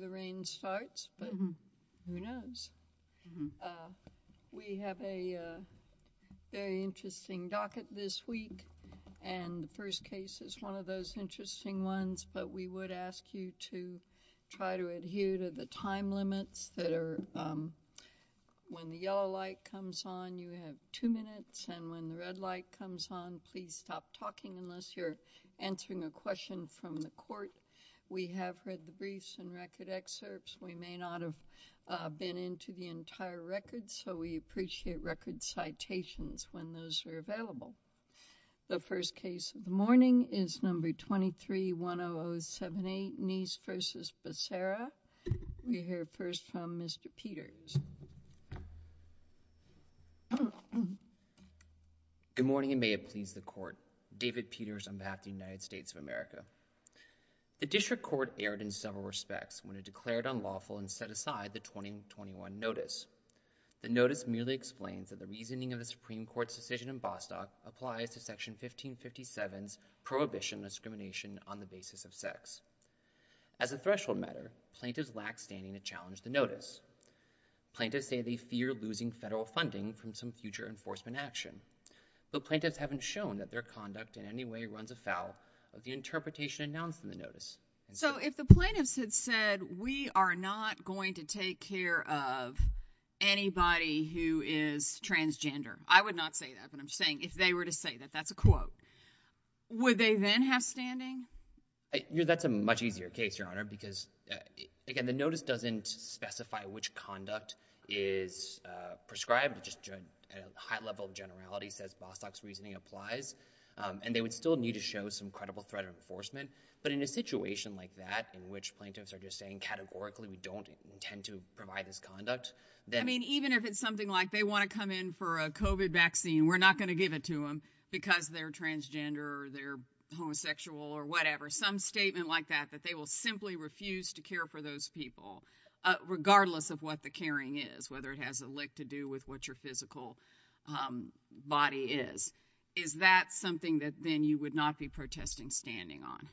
The rain starts but who knows. We have a very interesting docket this week and the first case is one of those interesting ones but we would ask you to try to adhere to the time limits that are when the yellow light comes on you have two minutes and when the red light comes on please stop talking unless you're answering a question from the court. We have read the briefs and record excerpts. We may not have been into the entire record so we appreciate record citations when those are available. The first case of the morning is number 23-10078 Neese v. Becerra. We hear first from Mr. Peters. Good morning and may it please the court. David Peters on behalf of the United States of America. The district court erred in several respects when it declared unlawful and set aside the 2021 notice. The notice merely explains that the reasoning of the Supreme Court's decision in Bostock applies to section 1557's prohibition of discrimination on the basis of sex. As a threshold matter, plaintiffs lack standing to challenge the notice. Plaintiffs say they fear losing federal funding from some future enforcement action. The plaintiffs haven't shown that their conduct in any way runs afoul of the plaintiffs. So if the plaintiffs had said we are not going to take care of anybody who is transgender, I would not say that but I'm saying if they were to say that that's a quote, would they then have standing? That's a much easier case, Your Honor, because again the notice doesn't specify which conduct is prescribed. Just a high level of generality says Bostock's reasoning applies and they would still need to show some credible threat of enforcement but in a situation like that in which plaintiffs are just saying categorically we don't intend to provide this conduct, then... I mean even if it's something like they want to come in for a COVID vaccine, we're not going to give it to them because they're transgender or they're homosexual or whatever. Some statement like that, that they will simply refuse to care for those people regardless of what the caring is, whether it has a lick to do with what your physical body is. Is that something that then you would not be protesting standing on?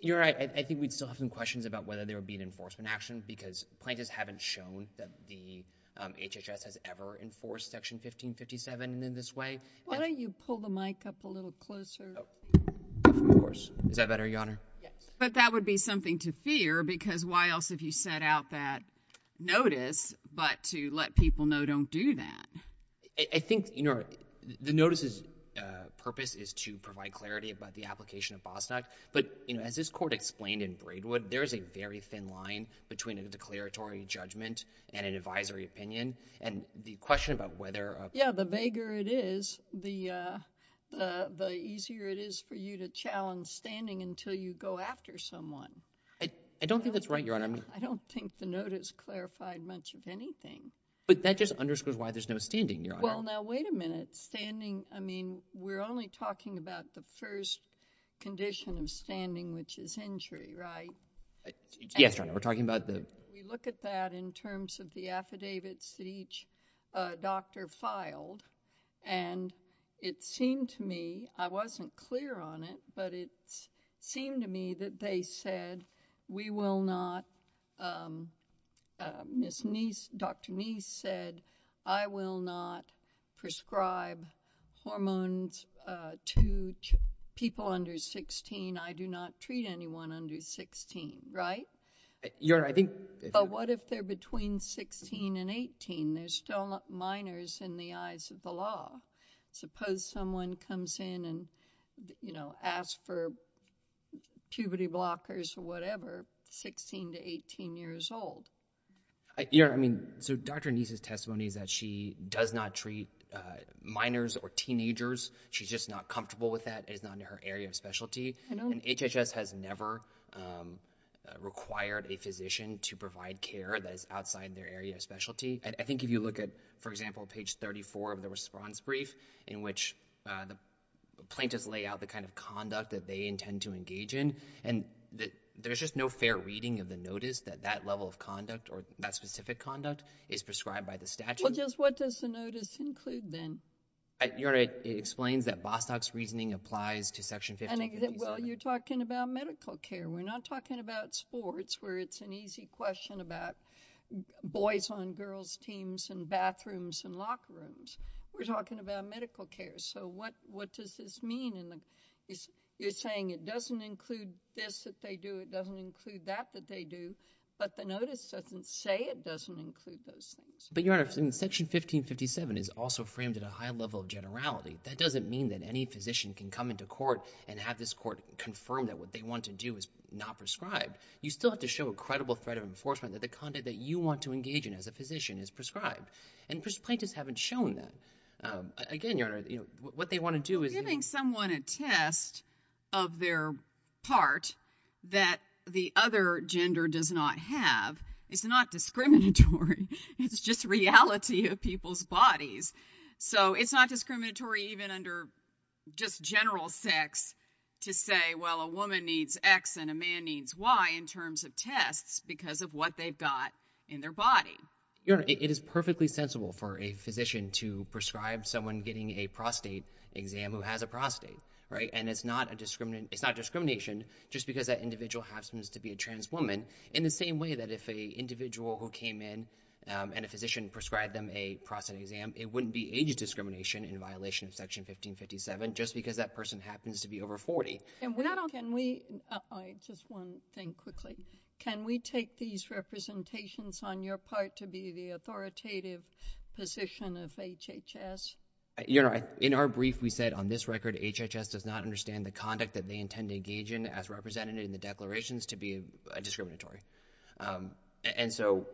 You're right. I think we'd still have some questions about whether there would be an enforcement action because plaintiffs haven't shown that the HHS has ever enforced Section 1557 in this way. Why don't you pull the mic up a little closer? Of course. Is that better, Your Honor? Yes. But that would be something to fear because why else have you set out that notice but to let people know don't do that? I think, Your Honor, the notice's clarifying clarity about the application of Bostock but, you know, as this court explained in Braidwood, there is a very thin line between a declaratory judgment and an advisory opinion and the question about whether... Yeah, the vaguer it is, the easier it is for you to challenge standing until you go after someone. I don't think that's right, Your Honor. I don't think the notice clarified much of anything. But that just underscores why there's no standing, Your Honor. Well now wait a minute. Standing, I mean, we're only talking about the first condition of standing, which is injury, right? Yes, Your Honor. We're talking about the... We look at that in terms of the affidavits that each doctor filed and it seemed to me, I wasn't clear on it, but it seemed to me that they people under 16, I do not treat anyone under 16, right? Your Honor, I think... But what if they're between 16 and 18? There's still minors in the eyes of the law. Suppose someone comes in and, you know, asks for puberty blockers or whatever, 16 to 18 years old. Your Honor, I mean, so Dr. Nese's testimony is that she does not treat minors or teenagers. She's just not comfortable with that. It is not in her area of specialty. And HHS has never required a physician to provide care that is outside their area of specialty. I think if you look at, for example, page 34 of the response brief in which the plaintiffs lay out the kind of conduct that they intend to engage in, and there's just no fair reading of the notice that that level of conduct or that specific conduct is prescribed by the statute. Well, just what does the notice include then? Your Honor, it explains that Bostock's reasoning applies to Section 1557. Well, you're talking about medical care. We're not talking about sports where it's an easy question about boys on girls teams and bathrooms and locker rooms. We're talking about medical care. So what they do, but the notice doesn't say it doesn't include those things. But, Your Honor, Section 1557 is also framed at a high level of generality. That doesn't mean that any physician can come into court and have this court confirm that what they want to do is not prescribed. You still have to show a credible threat of enforcement that the conduct that you want to engage in as a physician is prescribed. And plaintiffs haven't shown that. Again, Your Honor, it is perfectly sensible for a physician to prescribe someone getting a prostate exam who has a prostate. It's not discriminatory. It's just reality of people's bodies. So it's not discriminatory even under just general sex to say, well, a woman needs X and a man needs Y in terms of tests because of what they've got in their body. Your Honor, it is perfectly sensible for a physician to prescribe someone getting a prostate exam who has a woman. And it's not discrimination just because that individual happens to be a trans woman in the same way that if an individual who came in and a physician prescribed them a prostate exam, it wouldn't be age discrimination in violation of Section 1557 just because that person happens to be over 40. Can we take these representations on your part to be the authoritative position of HHS? Your Honor, in our brief, we said on this record, HHS does not understand the conduct that they intend to engage in as represented in the declarations to be discriminatory. And so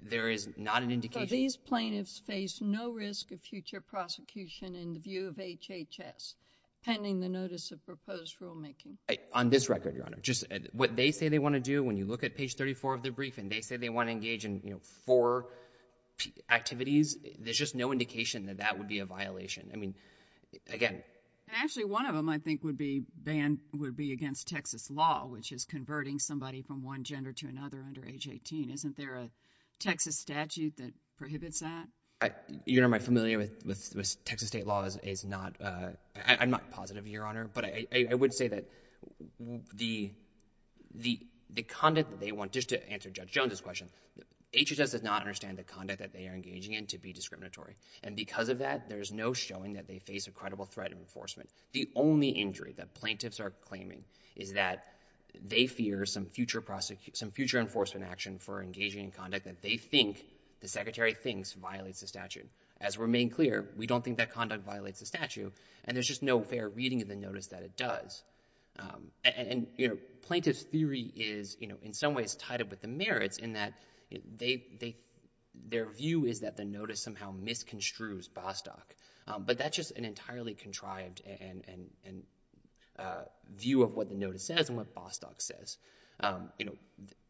there is not an indication. So these plaintiffs face no risk of future prosecution in the view of HHS pending the notice of proposed rulemaking? On this record, Your Honor, just what they say they want to do, when you look at page 34 of the brief and they say they want to engage in four activities, there's just no indication that that would be a violation. I mean, again. Actually, one of them I think would be banned would be against Texas law, which is converting somebody from one gender to another under age 18. Isn't there a Texas statute that prohibits that? Your Honor, I'm familiar with Texas state law. I'm not positive, Your Honor. But I would say that the conduct that they want, just to answer Judge Jones' question, HHS does not understand the conduct that they are engaging in to be discriminatory. And because of that, there's no showing that they face a credible threat of enforcement. The only injury that plaintiffs are claiming is that they fear some future enforcement action for engaging in conduct that they think the Secretary thinks violates the statute. As we're made clear, we don't think that conduct violates the statute. And there's just no fair reading of the notice that it does. And plaintiff's theory is in some ways tied up with the merits in that their view is that the notice somehow misconstrues Bostock. But that's just an entirely contrived view of what the notice says and what Bostock says.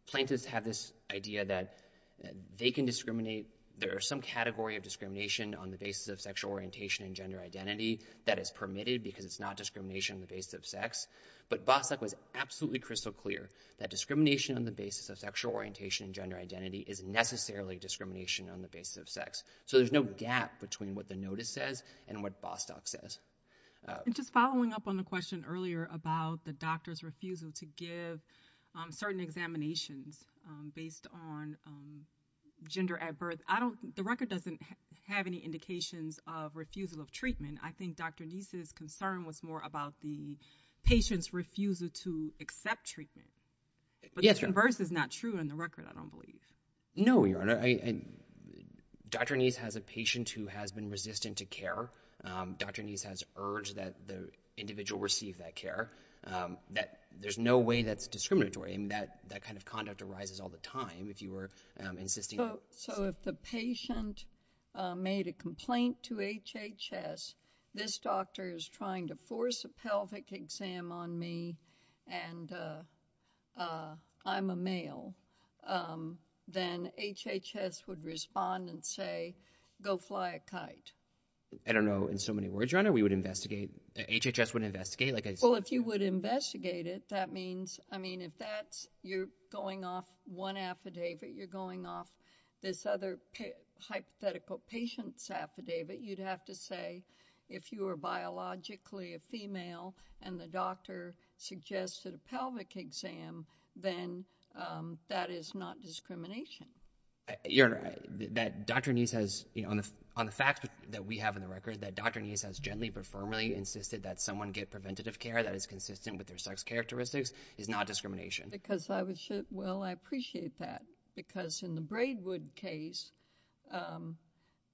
Plaintiffs have this idea that they can discriminate. There are some category of discrimination on the basis of sexual orientation and gender identity on the basis of sex. But Bostock was absolutely crystal clear that discrimination on the basis of sexual orientation and gender identity is necessarily discrimination on the basis of sex. So there's no gap between what the notice says and what Bostock says. And just following up on the question earlier about the doctor's refusal to give certain examinations based on gender at birth, the record doesn't have any indications of refusal of treatment. I think Dr. Neese's concern was more about the patient's refusal to accept treatment. But the reverse is not true in the record, I don't believe. No, Your Honor. Dr. Neese has a patient who has been resistant to care. Dr. Neese has urged that the individual receive that care. There's no way that's discriminatory. That kind of conduct arises all the time if you were insisting on it. So if the patient made a complaint to HHS, this doctor is trying to force a pelvic exam on me and I'm a male, then HHS would respond and say, go fly a kite. I don't know. In so many words, Your Honor, we would investigate. HHS would investigate? Well, if you would investigate it, that means, I mean, if you're going off one affidavit, you're going off this other hypothetical patient's affidavit, you'd have to say if you were biologically a female and the doctor suggested a pelvic exam, then that is not discrimination. Your Honor, that Dr. Neese has, on the facts that we have in the record, that Dr. Neese has gently but firmly insisted that someone get preventative care that is consistent with their sex characteristics is not discrimination. Because I was, well, I appreciate that. Because in the Braidwood case,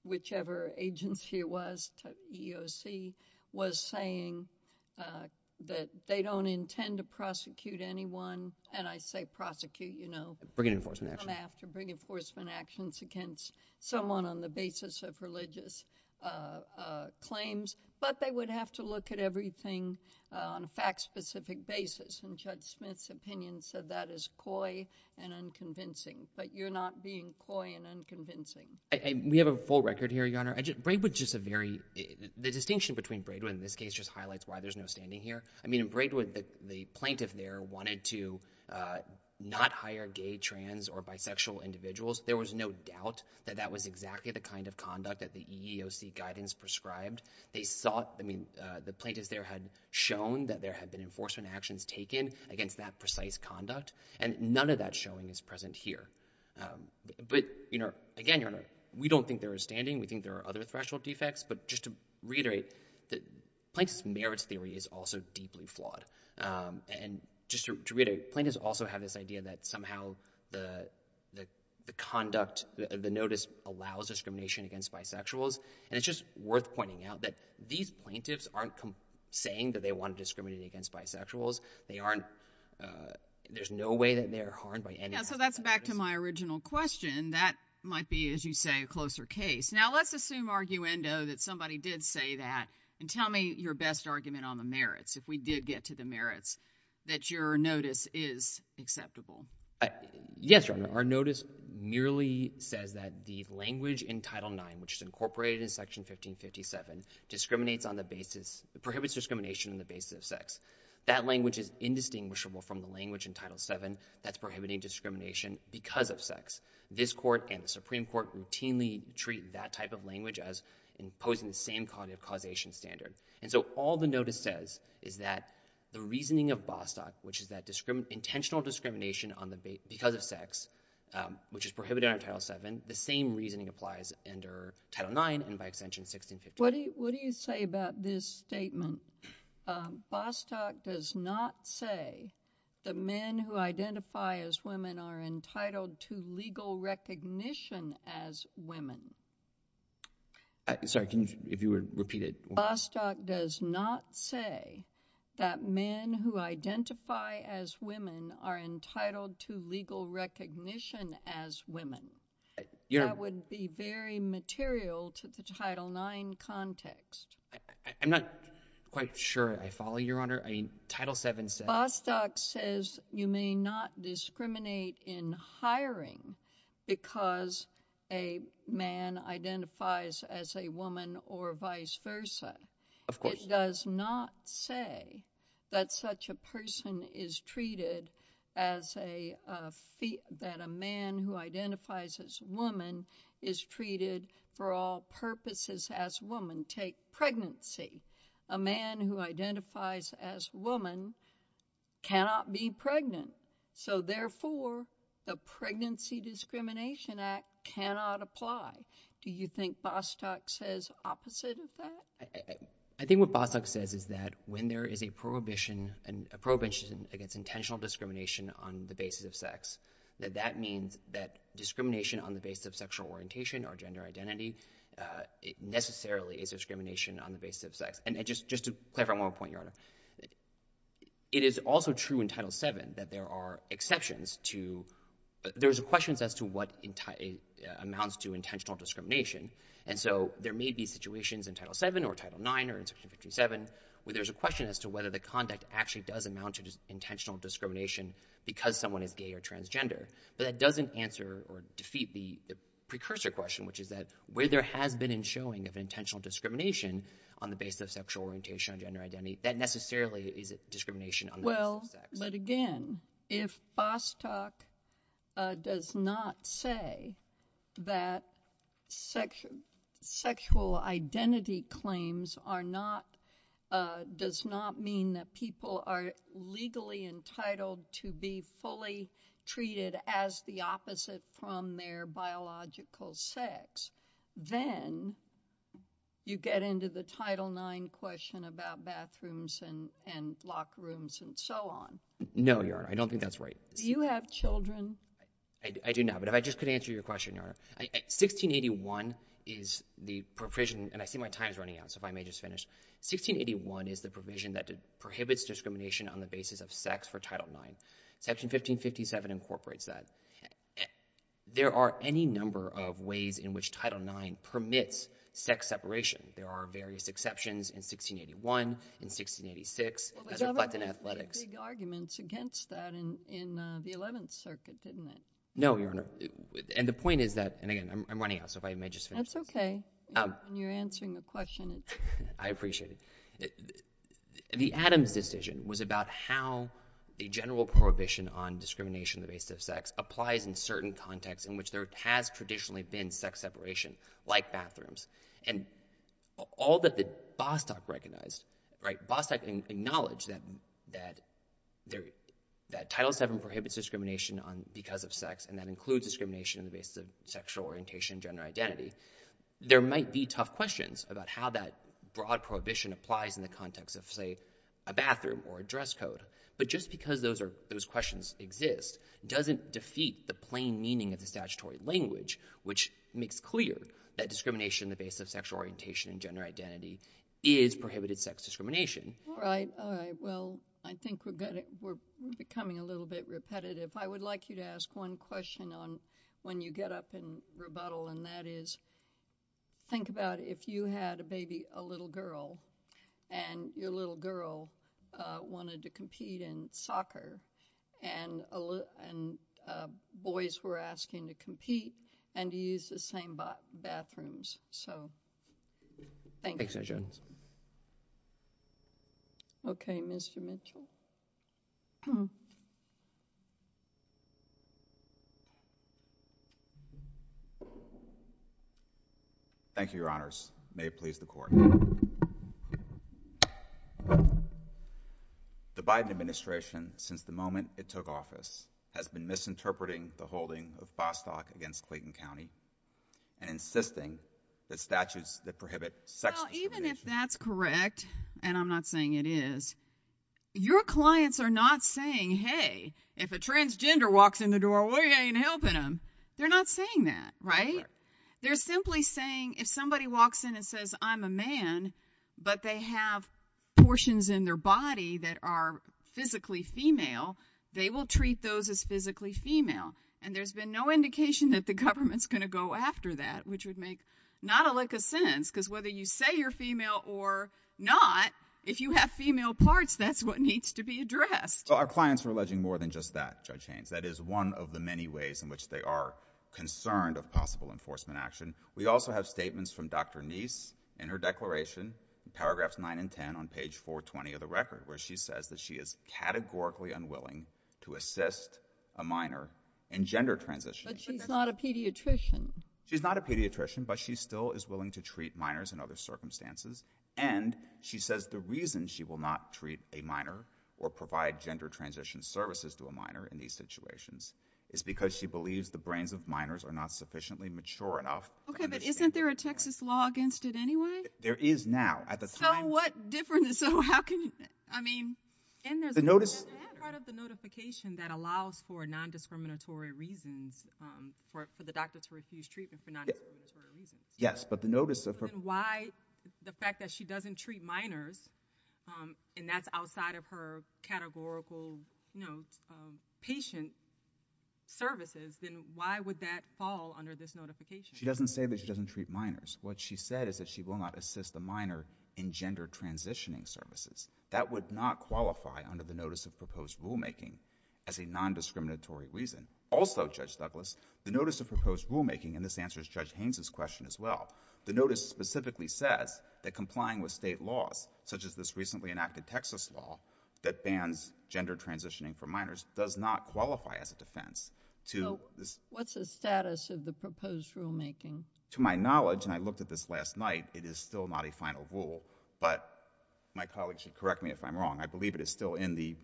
whichever agency it was, EEOC, was saying that they don't intend to prosecute anyone. And I say prosecute, you know, come after, bring enforcement actions against someone on the basis of religious claims. But they would have to look at everything on a fact-specific basis. And Judge Smith's opinion said that is coy and unconvincing. But you're not being coy and unconvincing. We have a full record here, Your Honor. Braidwood's just a very, the distinction between Braidwood in this case just highlights why there's no standing here. I mean, in Braidwood, the plaintiff there wanted to not hire gay, trans, or bisexual individuals. There was no doubt that that was exactly the kind of conduct that the EEOC guidance prescribed. They sought, I mean, the plaintiffs there had shown that there had been enforcement actions taken against that precise conduct. And none of that showing is present here. But, you know, again, Your Honor, we don't think there is standing. We think there are other threshold defects. But just to reiterate, the plaintiff's merits theory is also deeply flawed. And just to reiterate, plaintiffs also have this idea that somehow the conduct, the notice allows discrimination against bisexuals. And it's just worth pointing out that these plaintiffs aren't saying that they want to discriminate against bisexuals. They aren't, there's no way that they're harmed by any harm. Yeah, so that's back to my original question. That might be, as you say, a closer case. Now let's assume, arguendo, that somebody did say that. And tell me your best argument on the merits, if we did get to the merits, that your notice is acceptable. Yes, Your Honor. Our notice merely says that the language in Title IX, which is incorporated in Section 1557, discriminates on the basis, prohibits discrimination on the basis of sex. That language is indistinguishable from the language in Title VII that's prohibiting discrimination because of sex. This Court and the Supreme Court routinely treat that type of language as imposing the same cognitive causation standard. And so all the notice says is that the reasoning of Bostock, which is that intentional discrimination because of sex, which is prohibited under Title VII, the same reasoning applies under Title IX and by extension 1651. What do you say about this statement? Bostock does not say that men who identify as women are entitled to legal recognition as women. Sorry, if you would repeat it. Bostock does not say that men who identify as women are entitled to legal recognition as women. That would be very material to the Title IX context. I'm not quite sure I follow, Your Honor. Title VII says— Bostock says you may not discriminate in hiring because a man identifies as a woman or vice versa. Of course. Bostock does not say that such a person is treated as a—that a man who identifies as a woman is treated for all purposes as a woman. Take pregnancy. A man who identifies as a woman cannot be pregnant, so therefore the Pregnancy Discrimination Act cannot apply. Do you think Bostock says opposite of that? I think what Bostock says is that when there is a prohibition against intentional discrimination on the basis of sex, that that means that discrimination on the basis of sexual orientation or gender identity necessarily is discrimination on the basis of sex. And just to clarify one more point, Your Honor, it is also true in Title VII that there are exceptions to— amounts to intentional discrimination. And so there may be situations in Title VII or Title IX or Section 57 where there's a question as to whether the conduct actually does amount to intentional discrimination because someone is gay or transgender. But that doesn't answer or defeat the precursor question, which is that where there has been a showing of intentional discrimination on the basis of sexual orientation or gender identity, that necessarily is discrimination on the basis of sex. But again, if Bostock does not say that sexual identity claims are not—does not mean that people are legally entitled to be fully treated as the opposite from their biological sex, then you get into the Title IX question about bathrooms and locker rooms and so on. No, Your Honor. I don't think that's right. Do you have children? I do now, but if I just could answer your question, Your Honor. 1681 is the provision—and I see my time is running out, so if I may just finish. 1681 is the provision that prohibits discrimination on the basis of sex for Title IX. Section 1557 incorporates that. There are any number of ways in which Title IX permits sex separation. There are various exceptions in 1681, in 1686— Well, the government made big arguments against that in the Eleventh Circuit, didn't it? No, Your Honor. And the point is that—and again, I'm running out, so if I may just finish. That's okay. When you're answering the question, it's— Again, I appreciate it. The Adams decision was about how a general prohibition on discrimination on the basis of sex applies in certain contexts in which there has traditionally been sex separation, like bathrooms. And all that the Bostock recognized— Bostock acknowledged that Title VII prohibits discrimination because of sex, and that includes discrimination on the basis of sexual orientation and gender identity. There might be tough questions about how that broad prohibition applies in the context of, say, a bathroom or a dress code. But just because those questions exist doesn't defeat the plain meaning of the statutory language, which makes clear that discrimination on the basis of sexual orientation and gender identity is prohibited sex discrimination. All right. All right. Well, I think we're becoming a little bit repetitive. I would like you to ask one question on when you get up and rebuttal, and that is, think about if you had a baby, a little girl, and your little girl wanted to compete in soccer, and boys were asking to compete and to use the same bathrooms. So, thank you. Thanks, Judge Jones. Okay, Mr. Mitchell. Thank you, Your Honors. May it please the Court. The Biden administration, since the moment it took office, has been misinterpreting the holding of Bostock against Clayton County and insisting that statutes that prohibit sex discrimination— Well, even if that's correct, and I'm not saying it is, your clients are not saying, hey, if a transgender walks in the door, we ain't helping them. They're not saying that, right? They're simply saying if somebody walks in and says, I'm a man, but they have portions in their body that are physically female, they will treat those as physically female. And there's been no indication that the government's going to go after that, which would make not a lick of sense, because whether you say you're female or not, if you have female parts, that's what needs to be addressed. Well, our clients are alleging more than just that, Judge Haynes. That is one of the many ways in which they are concerned of possible enforcement action. We also have statements from Dr. Neese in her declaration, paragraphs 9 and 10 on page 420 of the record, where she says that she is categorically unwilling to assist a minor in gender transition. But she's not a pediatrician. She's not a pediatrician, but she still is willing to treat minors in other circumstances. And she says the reason she will not treat a minor or provide gender transition services to a minor in these situations is because she believes the brains of minors are not sufficiently mature enough. Okay, but isn't there a Texas law against it anyway? There is now. So what difference? So how can you? I mean, and there's a part of the notification that allows for non-discriminatory reasons, for the doctor to refuse treatment for non-discriminatory reasons. Yes, but the notice of her. Why the fact that she doesn't treat minors, and that's outside of her categorical patient services, then why would that fall under this notification? She doesn't say that she doesn't treat minors. What she said is that she will not assist a minor in gender transitioning services. That would not qualify under the notice of proposed rulemaking as a non-discriminatory reason. Also, Judge Douglas, the notice of proposed rulemaking, and this answers Judge Haynes' question as well, the notice specifically says that complying with state laws, such as this recently enacted Texas law that bans gender transitioning for minors, does not qualify as a defense to this. What's the status of the proposed rulemaking? To my knowledge, and I looked at this last night, it is still not a final rule, but my colleague should correct me if I'm wrong, I believe it is still in the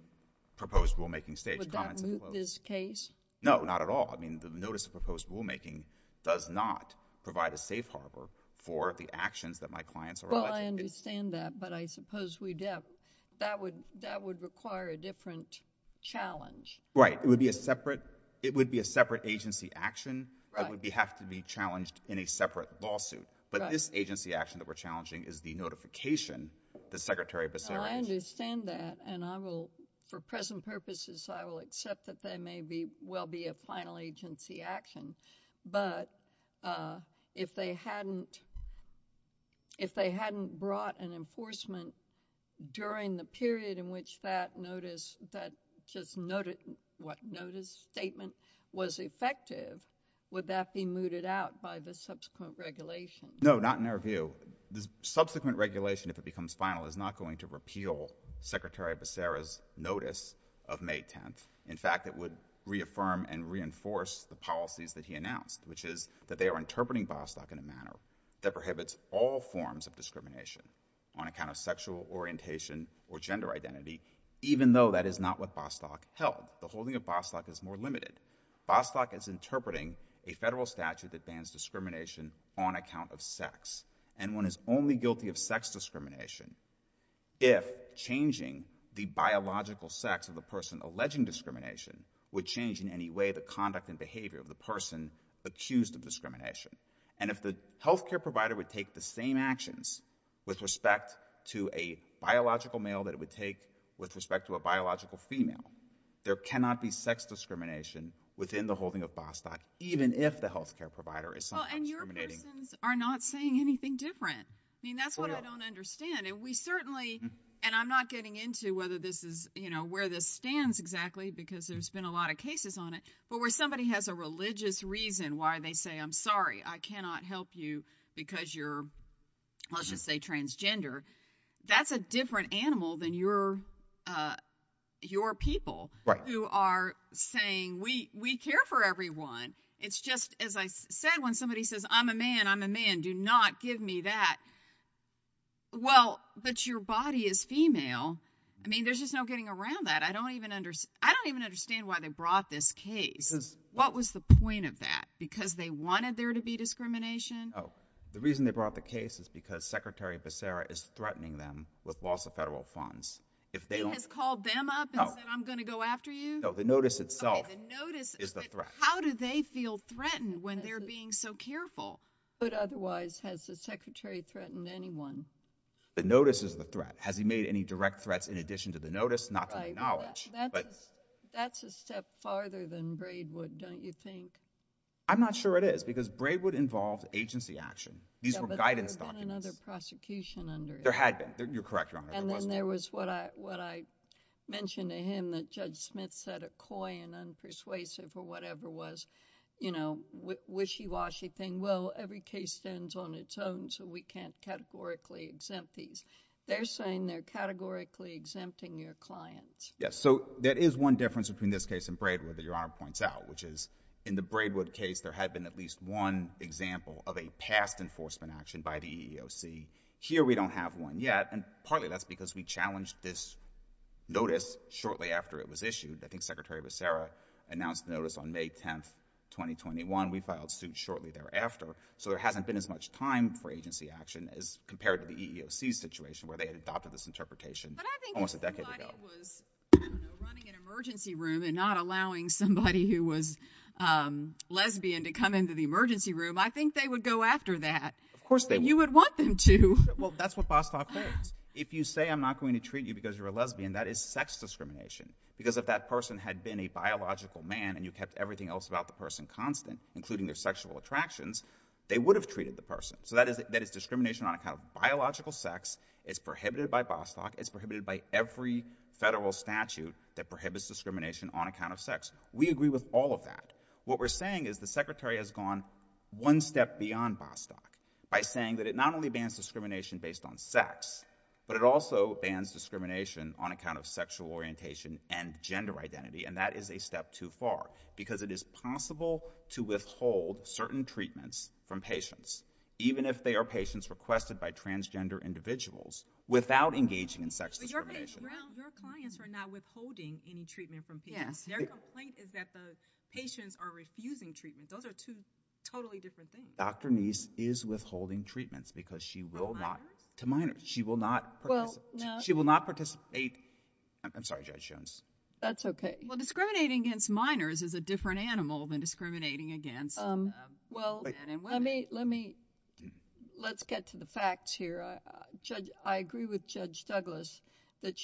proposed rulemaking stage. Would that move this case? No, not at all. I mean, the notice of proposed rulemaking does not provide a safe harbor for the actions that my clients are alleged to take. Well, I understand that, but I suppose that would require a different challenge. Right. It would be a separate agency action. Right. It would have to be challenged in a separate lawsuit. Right. But this agency action that we're challenging is the notification that Secretary Becerra issued. I understand that, and I will, for present purposes, I will accept that there may well be a final agency action. But if they hadn't brought an enforcement during the period in which that notice, that just notice statement was effective, would that be mooted out by the subsequent regulation? No, not in our view. The subsequent regulation, if it becomes final, is not going to repeal Secretary Becerra's notice of May 10th. In fact, it would reaffirm and reinforce the policies that he announced, which is that they are interpreting Bostock in a manner that prohibits all forms of discrimination on account of sexual orientation or gender identity, even though that is not what Bostock held. The holding of Bostock is more limited. Bostock is interpreting a federal statute that bans discrimination on account of sex. And one is only guilty of sex discrimination if changing the biological sex of the person alleging discrimination would change in any way the conduct and behavior of the person accused of discrimination. And if the health care provider would take the same actions with respect to a biological male that it would take with respect to a biological female, there cannot be sex discrimination within the holding of Bostock, even if the health care provider is sometimes discriminating. But these persons are not saying anything different. I mean, that's what I don't understand. And we certainly – and I'm not getting into whether this is – you know, where this stands exactly because there's been a lot of cases on it, but where somebody has a religious reason why they say, I'm sorry, I cannot help you because you're, let's just say, transgender, that's a different animal than your people who are saying, we care for everyone. It's just, as I said, when somebody says, I'm a man, I'm a man, do not give me that. Well, but your body is female. I mean, there's just no getting around that. I don't even understand why they brought this case. What was the point of that? Because they wanted there to be discrimination? No. The reason they brought the case is because Secretary Becerra is threatening them with loss of federal funds. He has called them up and said, I'm going to go after you? No, the notice itself is the threat. How do they feel threatened when they're being so careful? But otherwise, has the Secretary threatened anyone? The notice is the threat. Has he made any direct threats in addition to the notice? Not to my knowledge. That's a step farther than Braidwood, don't you think? I'm not sure it is because Braidwood involved agency action. These were guidance documents. There had been. You're correct, Your Honor. And then there was what I mentioned to him that Judge Smith said a coy and unpersuasive or whatever was, you know, wishy-washy thing. Well, every case stands on its own, so we can't categorically exempt these. They're saying they're categorically exempting your clients. Yes. So there is one difference between this case and Braidwood that Your Honor points out, which is in the Braidwood case, there had been at least one example of a past enforcement action by the EEOC. Here, we don't have one yet. And partly that's because we challenged this notice shortly after it was issued. I think Secretary Becerra announced the notice on May 10th, 2021. We filed suit shortly thereafter. So there hasn't been as much time for agency action as compared to the EEOC's situation where they had adopted this interpretation almost a decade ago. But I think if somebody was running an emergency room and not allowing somebody who was lesbian to come into the emergency room, I think they would go after that. Of course they would. You would want them to. Well, that's what Bostock means. If you say I'm not going to treat you because you're a lesbian, that is sex discrimination. Because if that person had been a biological man and you kept everything else about the person constant, including their sexual attractions, they would have treated the person. So that is discrimination on account of biological sex. It's prohibited by Bostock. It's prohibited by every federal statute that prohibits discrimination on account of sex. We agree with all of that. What we're saying is the Secretary has gone one step beyond Bostock by saying that it not only bans discrimination based on sex, but it also bans discrimination on account of sexual orientation and gender identity. And that is a step too far. Because it is possible to withhold certain treatments from patients, even if they are patients requested by transgender individuals, without engaging in sex discrimination. Your clients are not withholding any treatment from patients. Their complaint is that the patients are refusing treatment. Those are two totally different things. Dr. Neese is withholding treatments because she will not. To minors? To minors. She will not participate. I'm sorry, Judge Jones. That's okay. Well, discriminating against minors is a different animal than discriminating against men and women. Let's get to the facts here. I agree with Judge Douglas that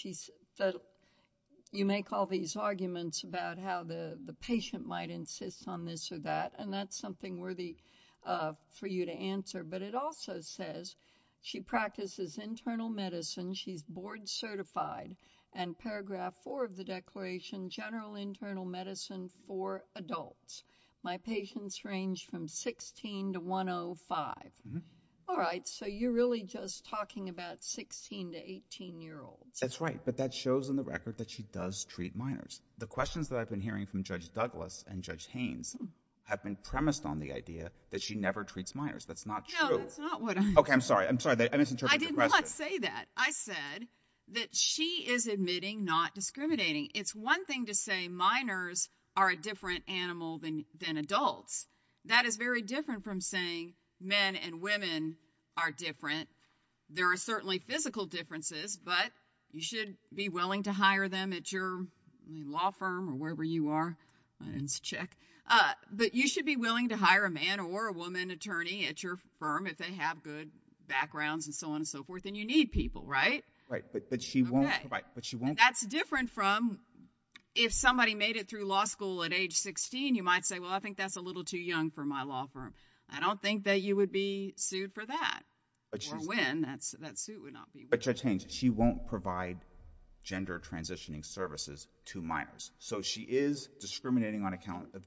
you make all these arguments about how the patient might insist on this or that. And that's something worthy for you to answer. But it also says she practices internal medicine. She's board certified. And paragraph four of the declaration, general internal medicine for adults. My patients range from 16 to 105. All right, so you're really just talking about 16 to 18-year-olds. That's right. But that shows in the record that she does treat minors. The questions that I've been hearing from Judge Douglas and Judge Haynes have been premised on the idea that she never treats minors. That's not true. No, that's not what I'm saying. Okay, I'm sorry. I misinterpreted your question. I did not say that. I said that she is admitting not discriminating. It's one thing to say minors are a different animal than adults. That is very different from saying men and women are different. There are certainly physical differences, but you should be willing to hire them at your law firm or wherever you are. I didn't check. But you should be willing to hire a man or a woman attorney at your firm if they have good backgrounds and so on and so forth. And you need people, right? Right, but she won't. That's different from if somebody made it through law school at age 16, you might say, well, I think that's a little too young for my law firm. I don't think that you would be sued for that or when. That suit would not be. But Judge Haynes, she won't provide gender transitioning services to minors. So she is discriminating on account of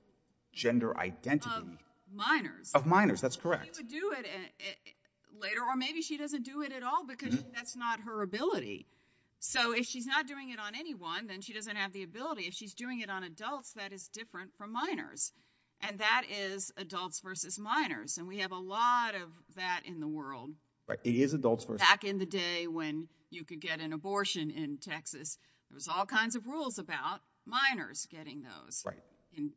gender identity. Of minors. Of minors, that's correct. She would do it later or maybe she doesn't do it at all because that's not her ability. So if she's not doing it on anyone, then she doesn't have the ability. Exactly. If she's doing it on adults, that is different from minors. And that is adults versus minors. And we have a lot of that in the world. Right. It is adults versus. Back in the day when you could get an abortion in Texas, there was all kinds of rules about minors getting those. Right.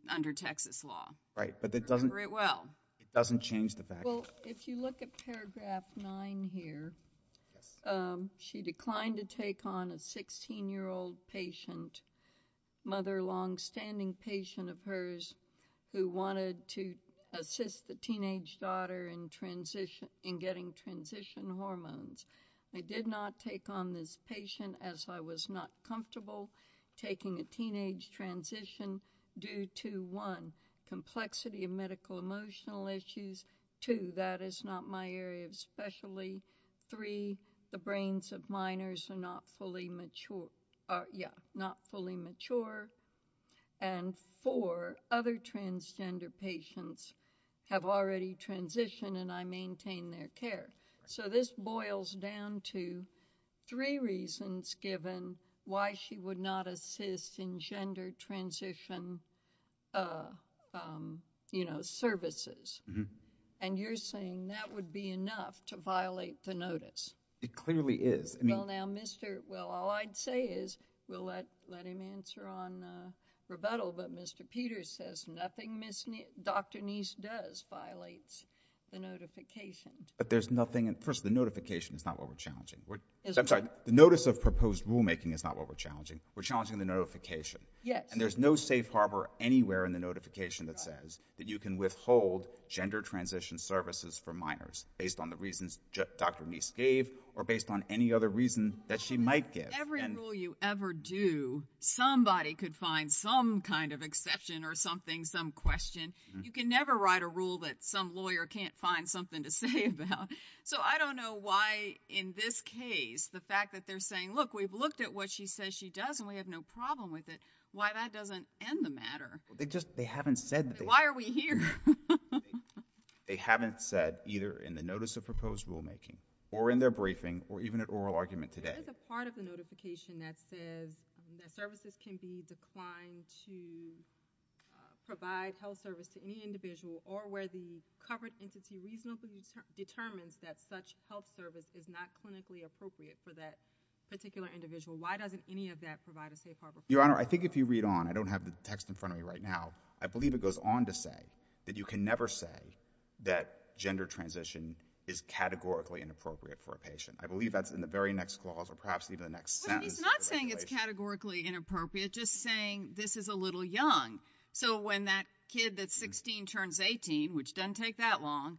Under Texas law. Right. But it doesn't. Remember it well. It doesn't change the fact. Well, if you look at paragraph nine here, she declined to take on a 16-year-old patient, mother longstanding patient of hers who wanted to assist the teenage daughter in getting transition hormones. I did not take on this patient as I was not comfortable taking a teenage transition due to, one, two, that is not my area of specialty. Three, the brains of minors are not fully mature. Yeah, not fully mature. And four, other transgender patients have already transitioned and I maintain their care. So this boils down to three reasons given why she would not assist in gender transition, you know, services. And you're saying that would be enough to violate the notice. It clearly is. Well, now, Mr. Well, all I'd say is we'll let him answer on rebuttal. But Mr. Peters says nothing Dr. Neese does violates the notification. But there's nothing. First, the notification is not what we're challenging. I'm sorry. The notice of proposed rulemaking is not what we're challenging. We're challenging the notification. Yes. And there's no safe harbor anywhere in the notification that says that you can withhold gender transition services for minors based on the reasons Dr. Neese gave or based on any other reason that she might give. Every rule you ever do, somebody could find some kind of exception or something, some question. You can never write a rule that some lawyer can't find something to say about. So I don't know why in this case the fact that they're saying, look, we've looked at what she says she does and we have no problem with it, why that doesn't end the matter. They haven't said that. Why are we here? They haven't said either in the notice of proposed rulemaking or in their briefing or even at oral argument today. There's a part of the notification that says that services can be declined to provide health service to any individual or where the covered entity reasonably determines that such health service is not clinically appropriate for that particular individual. Why doesn't any of that provide a safe harbor? Your Honor, I think if you read on, I don't have the text in front of me right now, I believe it goes on to say that you can never say that gender transition is categorically inappropriate for a patient. I believe that's in the very next clause or perhaps even the next sentence. He's not saying it's categorically inappropriate, just saying this is a little young. So when that kid that's 16 turns 18, which doesn't take that long,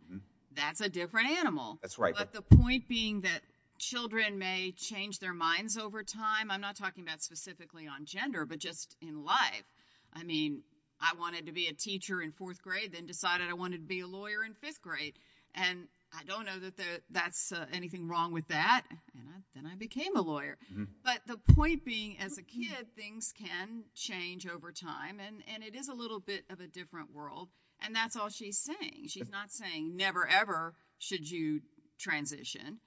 that's a different animal. That's right. But the point being that children may change their minds over time. I'm not talking about specifically on gender, but just in life. I mean, I wanted to be a teacher in fourth grade, then decided I wanted to be a lawyer in fifth grade, and I don't know that that's anything wrong with that, and then I became a lawyer. But the point being as a kid, things can change over time, and it is a little bit of a different world, and that's all she's saying. She's not saying never ever should you transition.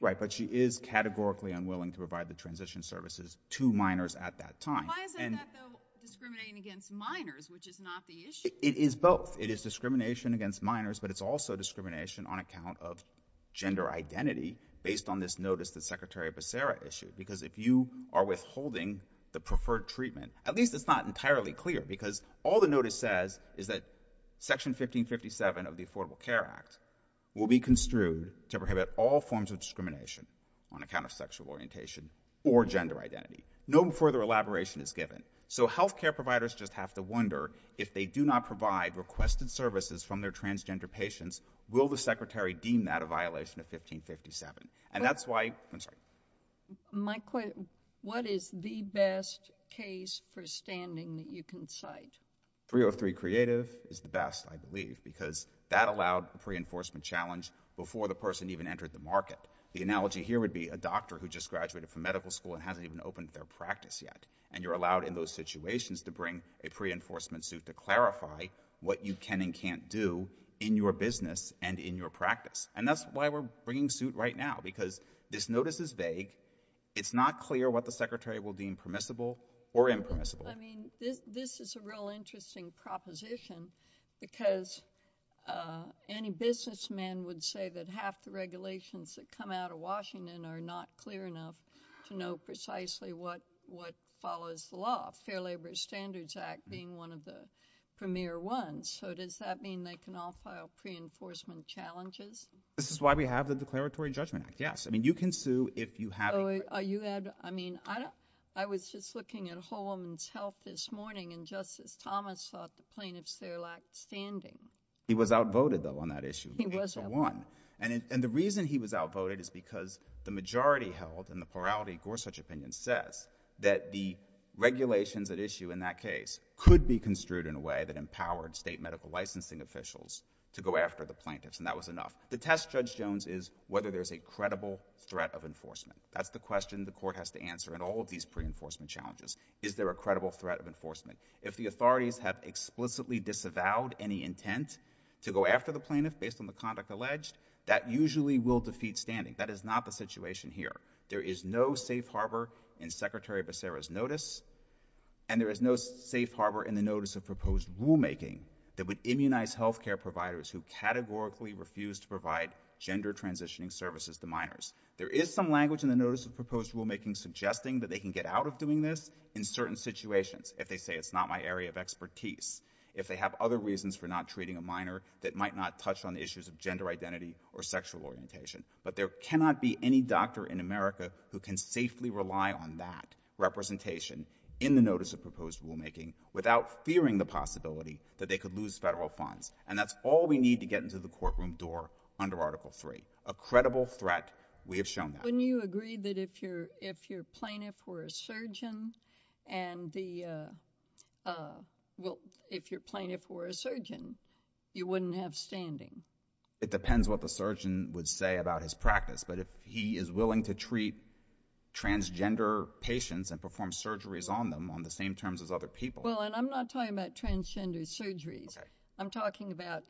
Right, but she is categorically unwilling to provide the transition services to minors at that time. Why isn't that, though, discriminating against minors, which is not the issue? It is both. It is discrimination against minors, but it's also discrimination on account of gender identity based on this notice that Secretary Becerra issued, because if you are withholding the preferred treatment, at least it's not entirely clear, because all the notice says is that Section 1557 of the Affordable Care Act will be construed to prohibit all forms of discrimination on account of sexual orientation or gender identity. No further elaboration is given. So health care providers just have to wonder if they do not provide requested services from their transgender patients, will the Secretary deem that a violation of 1557? What is the best case for standing that you can cite? 303 Creative is the best, I believe, because that allowed a pre-enforcement challenge before the person even entered the market. The analogy here would be a doctor who just graduated from medical school and hasn't even opened their practice yet, and you're allowed in those situations to bring a pre-enforcement suit to clarify what you can and can't do in your business and in your practice, and that's why we're bringing suit right now, because this notice is vague. It's not clear what the Secretary will deem permissible or impermissible. I mean, this is a real interesting proposition, because any businessman would say that half the regulations that come out of Washington are not clear enough to know precisely what follows the law, Fair Labor Standards Act being one of the premier ones. So does that mean they can all file pre-enforcement challenges? This is why we have the Declaratory Judgment Act, yes. I mean, you can sue if you have a— Are you—I mean, I was just looking at a whole woman's health this morning, and Justice Thomas thought the plaintiffs there lacked standing. He was outvoted, though, on that issue. He was outvoted. And the reason he was outvoted is because the majority held, and the plurality Gorsuch opinion says, that the regulations at issue in that case could be construed in a way that empowered state medical licensing officials to go after the plaintiffs, and that was enough. The test, Judge Jones, is whether there's a credible threat of enforcement. That's the question the Court has to answer in all of these pre-enforcement challenges. Is there a credible threat of enforcement? If the authorities have explicitly disavowed any intent to go after the plaintiff based on the conduct alleged, that usually will defeat standing. That is not the situation here. There is no safe harbor in Secretary Becerra's notice, and there is no safe harbor in the notice of proposed rulemaking that would immunize health care providers who categorically refuse to provide gender transitioning services to minors. There is some language in the notice of proposed rulemaking suggesting that they can get out of doing this in certain situations, if they say it's not my area of expertise, if they have other reasons for not treating a minor that might not touch on issues of gender identity or sexual orientation. But there cannot be any doctor in America who can safely rely on that representation in the notice of proposed rulemaking without fearing the possibility that they could lose federal funds. And that's all we need to get into the courtroom door under Article III. A credible threat, we have shown that. Wouldn't you agree that if your plaintiff were a surgeon, you wouldn't have standing? It depends what the surgeon would say about his practice, but if he is willing to treat transgender patients and perform surgeries on them on the same terms as other people. Well, and I'm not talking about transgender surgeries. Okay. I'm talking about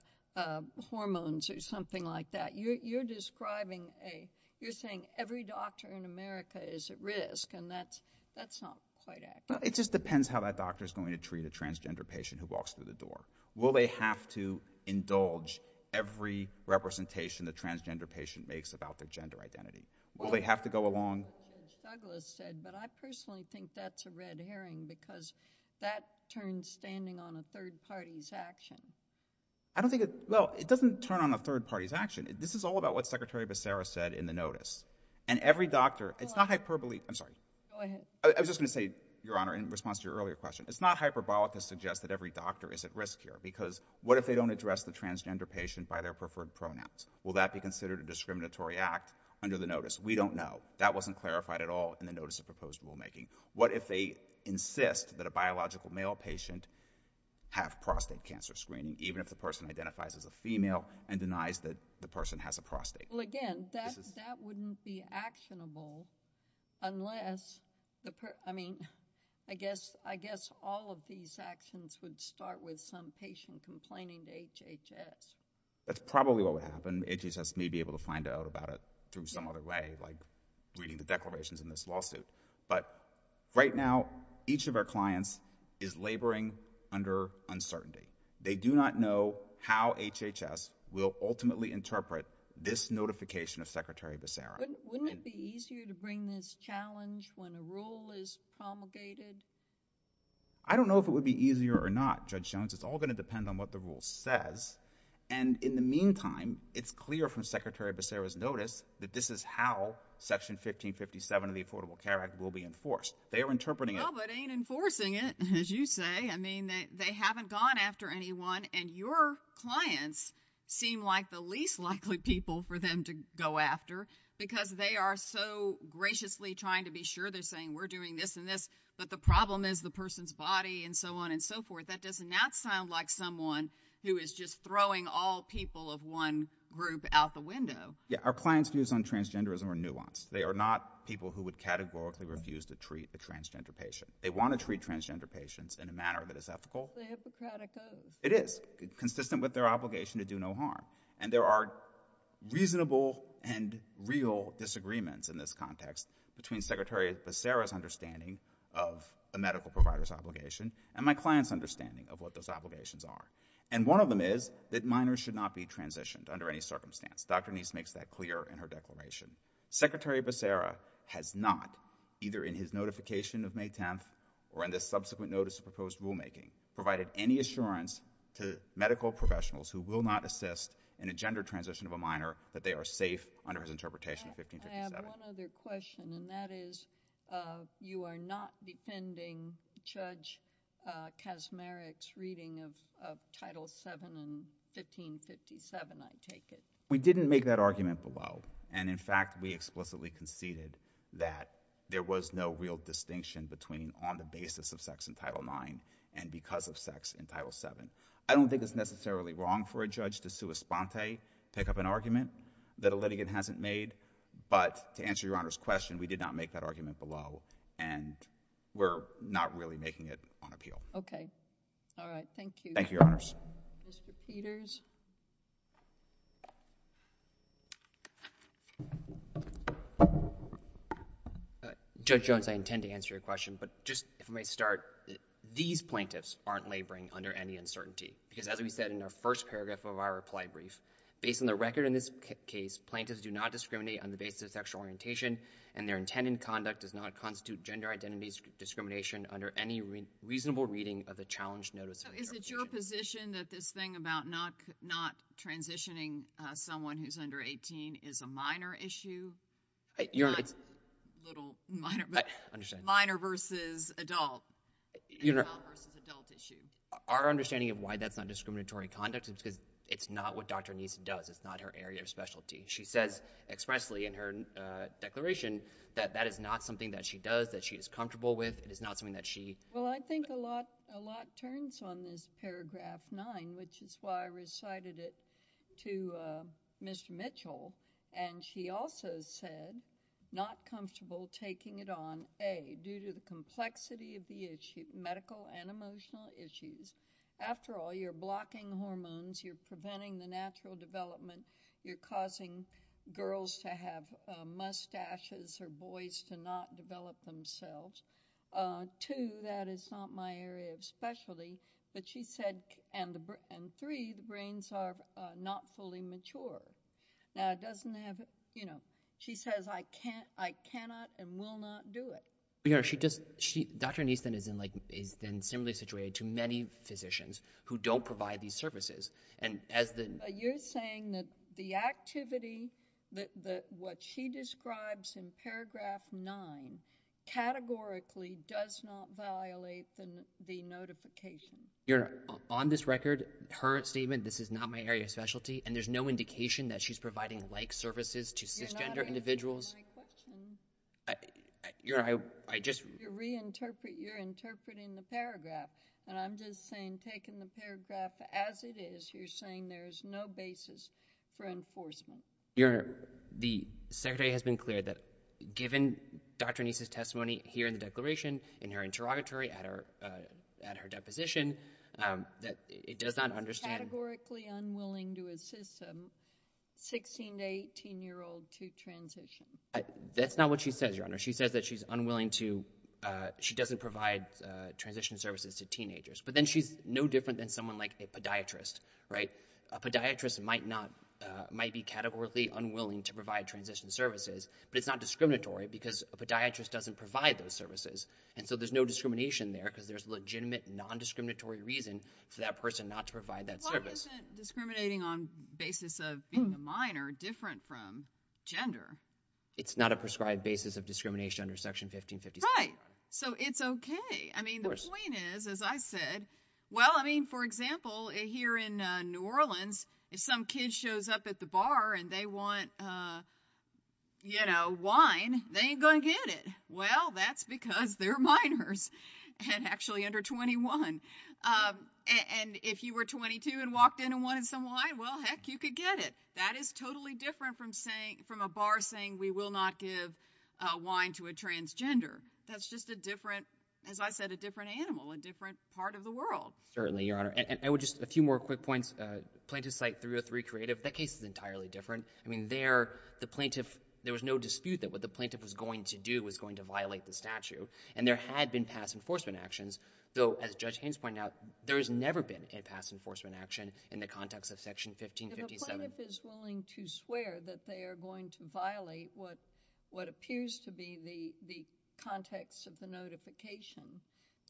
hormones or something like that. You're describing a—you're saying every doctor in America is at risk, and that's not quite accurate. Well, it just depends how that doctor is going to treat a transgender patient who walks through the door. Will they have to indulge every representation the transgender patient makes about their gender identity? Will they have to go along? Judge Douglas said, but I personally think that's a red herring because that turns standing on a third party's action. I don't think it—well, it doesn't turn on a third party's action. This is all about what Secretary Becerra said in the notice. And every doctor—it's not hyperbole—I'm sorry. Go ahead. I was just going to say, Your Honor, in response to your earlier question, it's not hyperbolic to suggest that every doctor is at risk here because what if they don't address the transgender patient by their preferred pronouns? Will that be considered a discriminatory act under the notice? We don't know. That wasn't clarified at all in the notice of proposed rulemaking. What if they insist that a biological male patient have prostate cancer screening, even if the person identifies as a female and denies that the person has a prostate? Well, again, that wouldn't be actionable unless—I mean, I guess all of these actions would start with some patient complaining to HHS. That's probably what would happen. HHS may be able to find out about it through some other way, like reading the declarations in this lawsuit. But right now, each of our clients is laboring under uncertainty. They do not know how HHS will ultimately interpret this notification of Secretary Becerra. Wouldn't it be easier to bring this challenge when a rule is promulgated? I don't know if it would be easier or not, Judge Jones. It's all going to depend on what the rule says. And in the meantime, it's clear from Secretary Becerra's notice that this is how Section 1557 of the Affordable Care Act will be enforced. They are interpreting it— Well, but it ain't enforcing it, as you say. I mean, they haven't gone after anyone, and your clients seem like the least likely people for them to go after because they are so graciously trying to be sure. They're saying, we're doing this and this, but the problem is the person's body and so on and so forth. That does not sound like someone who is just throwing all people of one group out the window. Yeah, our clients' views on transgenderism are nuanced. They are not people who would categorically refuse to treat a transgender patient. They want to treat transgender patients in a manner that is ethical. It's a Hippocratic oath. It is, consistent with their obligation to do no harm. And there are reasonable and real disagreements in this context between Secretary Becerra's understanding of a medical provider's obligation and my client's understanding of what those obligations are. And one of them is that minors should not be transitioned under any circumstance. Dr. Nese makes that clear in her declaration. Secretary Becerra has not, either in his notification of May 10th or in the subsequent notice of proposed rulemaking, provided any assurance to medical professionals who will not assist in a gender transition of a minor that they are safe under his interpretation of 1557. I have one other question, and that is you are not defending Judge Kaczmarek's reading of Title VII and 1557, I take it. We didn't make that argument below. And, in fact, we explicitly conceded that there was no real distinction between on the basis of sex in Title IX and because of sex in Title VII. I don't think it's necessarily wrong for a judge to sua sponte, pick up an argument that a litigant hasn't made. But to answer Your Honor's question, we did not make that argument below, and we're not really making it on appeal. Okay. All right. Thank you. Thank you, Your Honors. Mr. Peters. Judge Jones, I intend to answer your question, but just, if I may start, these plaintiffs aren't laboring under any uncertainty. Because, as we said in our first paragraph of our reply brief, based on the record in this case, plaintiffs do not discriminate on the basis of sexual orientation, and their intent in conduct does not constitute gender identity discrimination under any reasonable reading of the challenge notice. So is it your position that this thing about not transitioning someone who's under 18 is a minor issue? Your Honor, it's – Not a little minor, but – I understand. – minor versus adult. Your Honor – Adult versus adult issue. Our understanding of why that's not discriminatory conduct is because it's not what Dr. Neese does. It's not her area of specialty. She says expressly in her declaration that that is not something that she does, that she is comfortable with. It is not something that she – Well, I think a lot turns on this paragraph 9, which is why I recited it to Mr. Mitchell. And she also said, not comfortable taking it on, A, due to the complexity of the issue, medical and emotional issues. After all, you're blocking hormones, you're preventing the natural development, you're causing girls to have mustaches or boys to not develop themselves. Two, that is not my area of specialty. But she said – and three, the brains are not fully mature. Now, it doesn't have – you know, she says I cannot and will not do it. Your Honor, she just – Dr. Neese then is in like – is then similarly situated to many physicians who don't provide these services. And as the – But you're saying that the activity that what she describes in paragraph 9 categorically does not violate the notification. Your Honor, on this record, her statement, this is not my area of specialty, and there's no indication that she's providing like services to cisgender individuals. You're not answering my question. Your Honor, I just – You're reinterpreting the paragraph. And I'm just saying taking the paragraph as it is, you're saying there's no basis for enforcement. Your Honor, the Secretary has been clear that given Dr. Neese's testimony here in the declaration, in her interrogatory, at her deposition, that it does not understand – Categorically unwilling to assist a 16- to 18-year-old to transition. That's not what she says, Your Honor. She says that she's unwilling to – she doesn't provide transition services to teenagers. But then she's no different than someone like a podiatrist, right? A podiatrist might not – might be categorically unwilling to provide transition services, but it's not discriminatory because a podiatrist doesn't provide those services. And so there's no discrimination there because there's legitimate non-discriminatory reason for that person not to provide that service. Why isn't discriminating on basis of being a minor different from gender? It's not a prescribed basis of discrimination under Section 1556, Your Honor. Right. So it's okay. Of course. I mean the point is, as I said – well, I mean, for example, here in New Orleans, if some kid shows up at the bar and they want wine, they ain't going to get it. Well, that's because they're minors and actually under 21. And if you were 22 and walked in and wanted some wine, well, heck, you could get it. That is totally different from a bar saying we will not give wine to a transgender. That's just a different – as I said, a different animal, a different part of the world. Certainly, Your Honor. And I would just – a few more quick points. Plaintiff's site 303 Creative, that case is entirely different. I mean there, the plaintiff – there was no dispute that what the plaintiff was going to do was going to violate the statute, and there had been past enforcement actions. Though, as Judge Haynes pointed out, there has never been a past enforcement action in the context of Section 1557. If the plaintiff is willing to swear that they are going to violate what appears to be the context of the notification,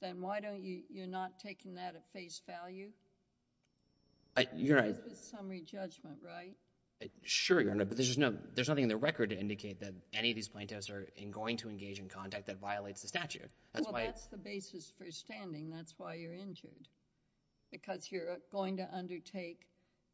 then why don't you – you're not taking that at face value? You're right. It's a summary judgment, right? Sure, Your Honor, but there's nothing in the record to indicate that any of these plaintiffs are going to engage in conduct that violates the statute. Well, that's the basis for standing. That's why you're injured, because you're going to undertake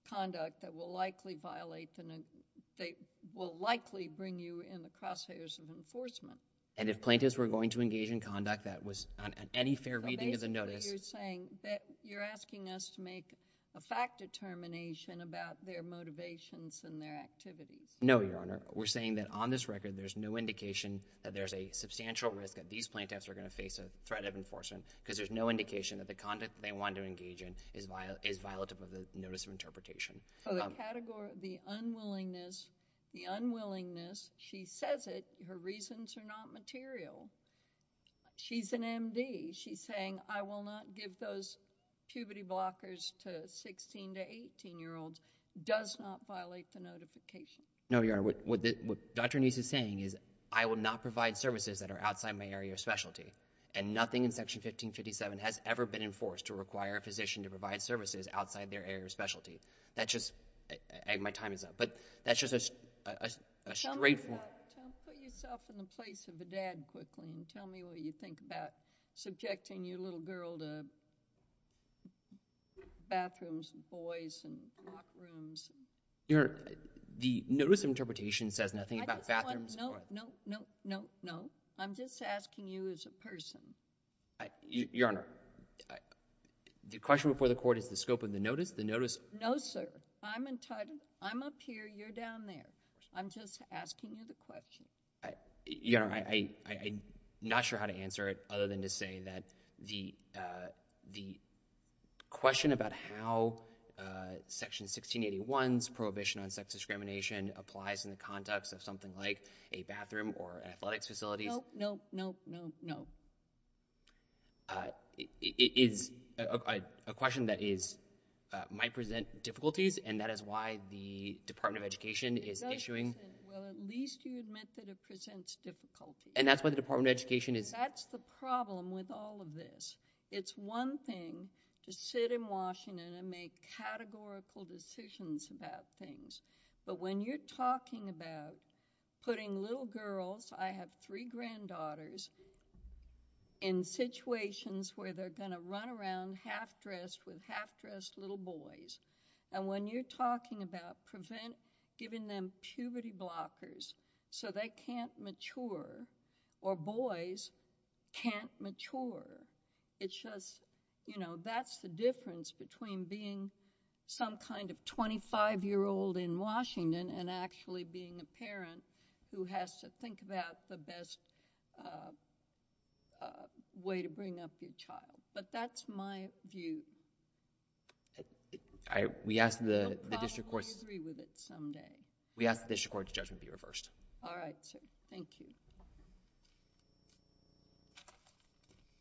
conduct that will likely violate the – that will likely bring you in the crosshairs of enforcement. And if plaintiffs were going to engage in conduct that was on any fair reading of the notice – Basically, you're saying that you're asking us to make a fact determination about their motivations and their activities. No, Your Honor. We're saying that on this record, there's no indication that there's a substantial risk that these plaintiffs are going to face a threat of enforcement, because there's no indication that the conduct they want to engage in is violative of the notice of interpretation. So, the category – the unwillingness – the unwillingness – she says it. Her reasons are not material. She's an MD. She's saying, I will not give those puberty blockers to 16- to 18-year-olds does not violate the notification. No, Your Honor. What Dr. Nese is saying is, I will not provide services that are outside my area of specialty. And nothing in Section 1557 has ever been enforced to require a physician to provide services outside their area of specialty. That's just – my time is up. But that's just a straightforward – Put yourself in the place of a dad quickly and tell me what you think about subjecting your little girl to bathrooms and boys and lock rooms. Your Honor, the notice of interpretation says nothing about bathrooms and boys. No, no, no, no, no. I'm just asking you as a person. Your Honor, the question before the Court is the scope of the notice. The notice – No, sir. I'm entitled. I'm up here. You're down there. I'm just asking you the question. Your Honor, I'm not sure how to answer it other than to say that the question about how Section 1681's prohibition on sex discrimination applies in the context of something like a bathroom or athletics facility – No, no, no, no, no. It is a question that might present difficulties, and that is why the Department of Education is issuing – Well, at least you admit that it presents difficulties. And that's why the Department of Education is – That's the problem with all of this. It's one thing to sit in Washington and make categorical decisions about things. But when you're talking about putting little girls – I have three granddaughters – in situations where they're going to run around half-dressed with half-dressed little boys, and when you're talking about giving them puberty blockers so they can't mature or boys can't mature, it's just – that's the difference between being some kind of 25-year-old in Washington and actually being a parent who has to think about the best way to bring up your child. But that's my view. We ask the district court – I agree with it someday. We ask the district court's judgment be reversed. All right. Thank you.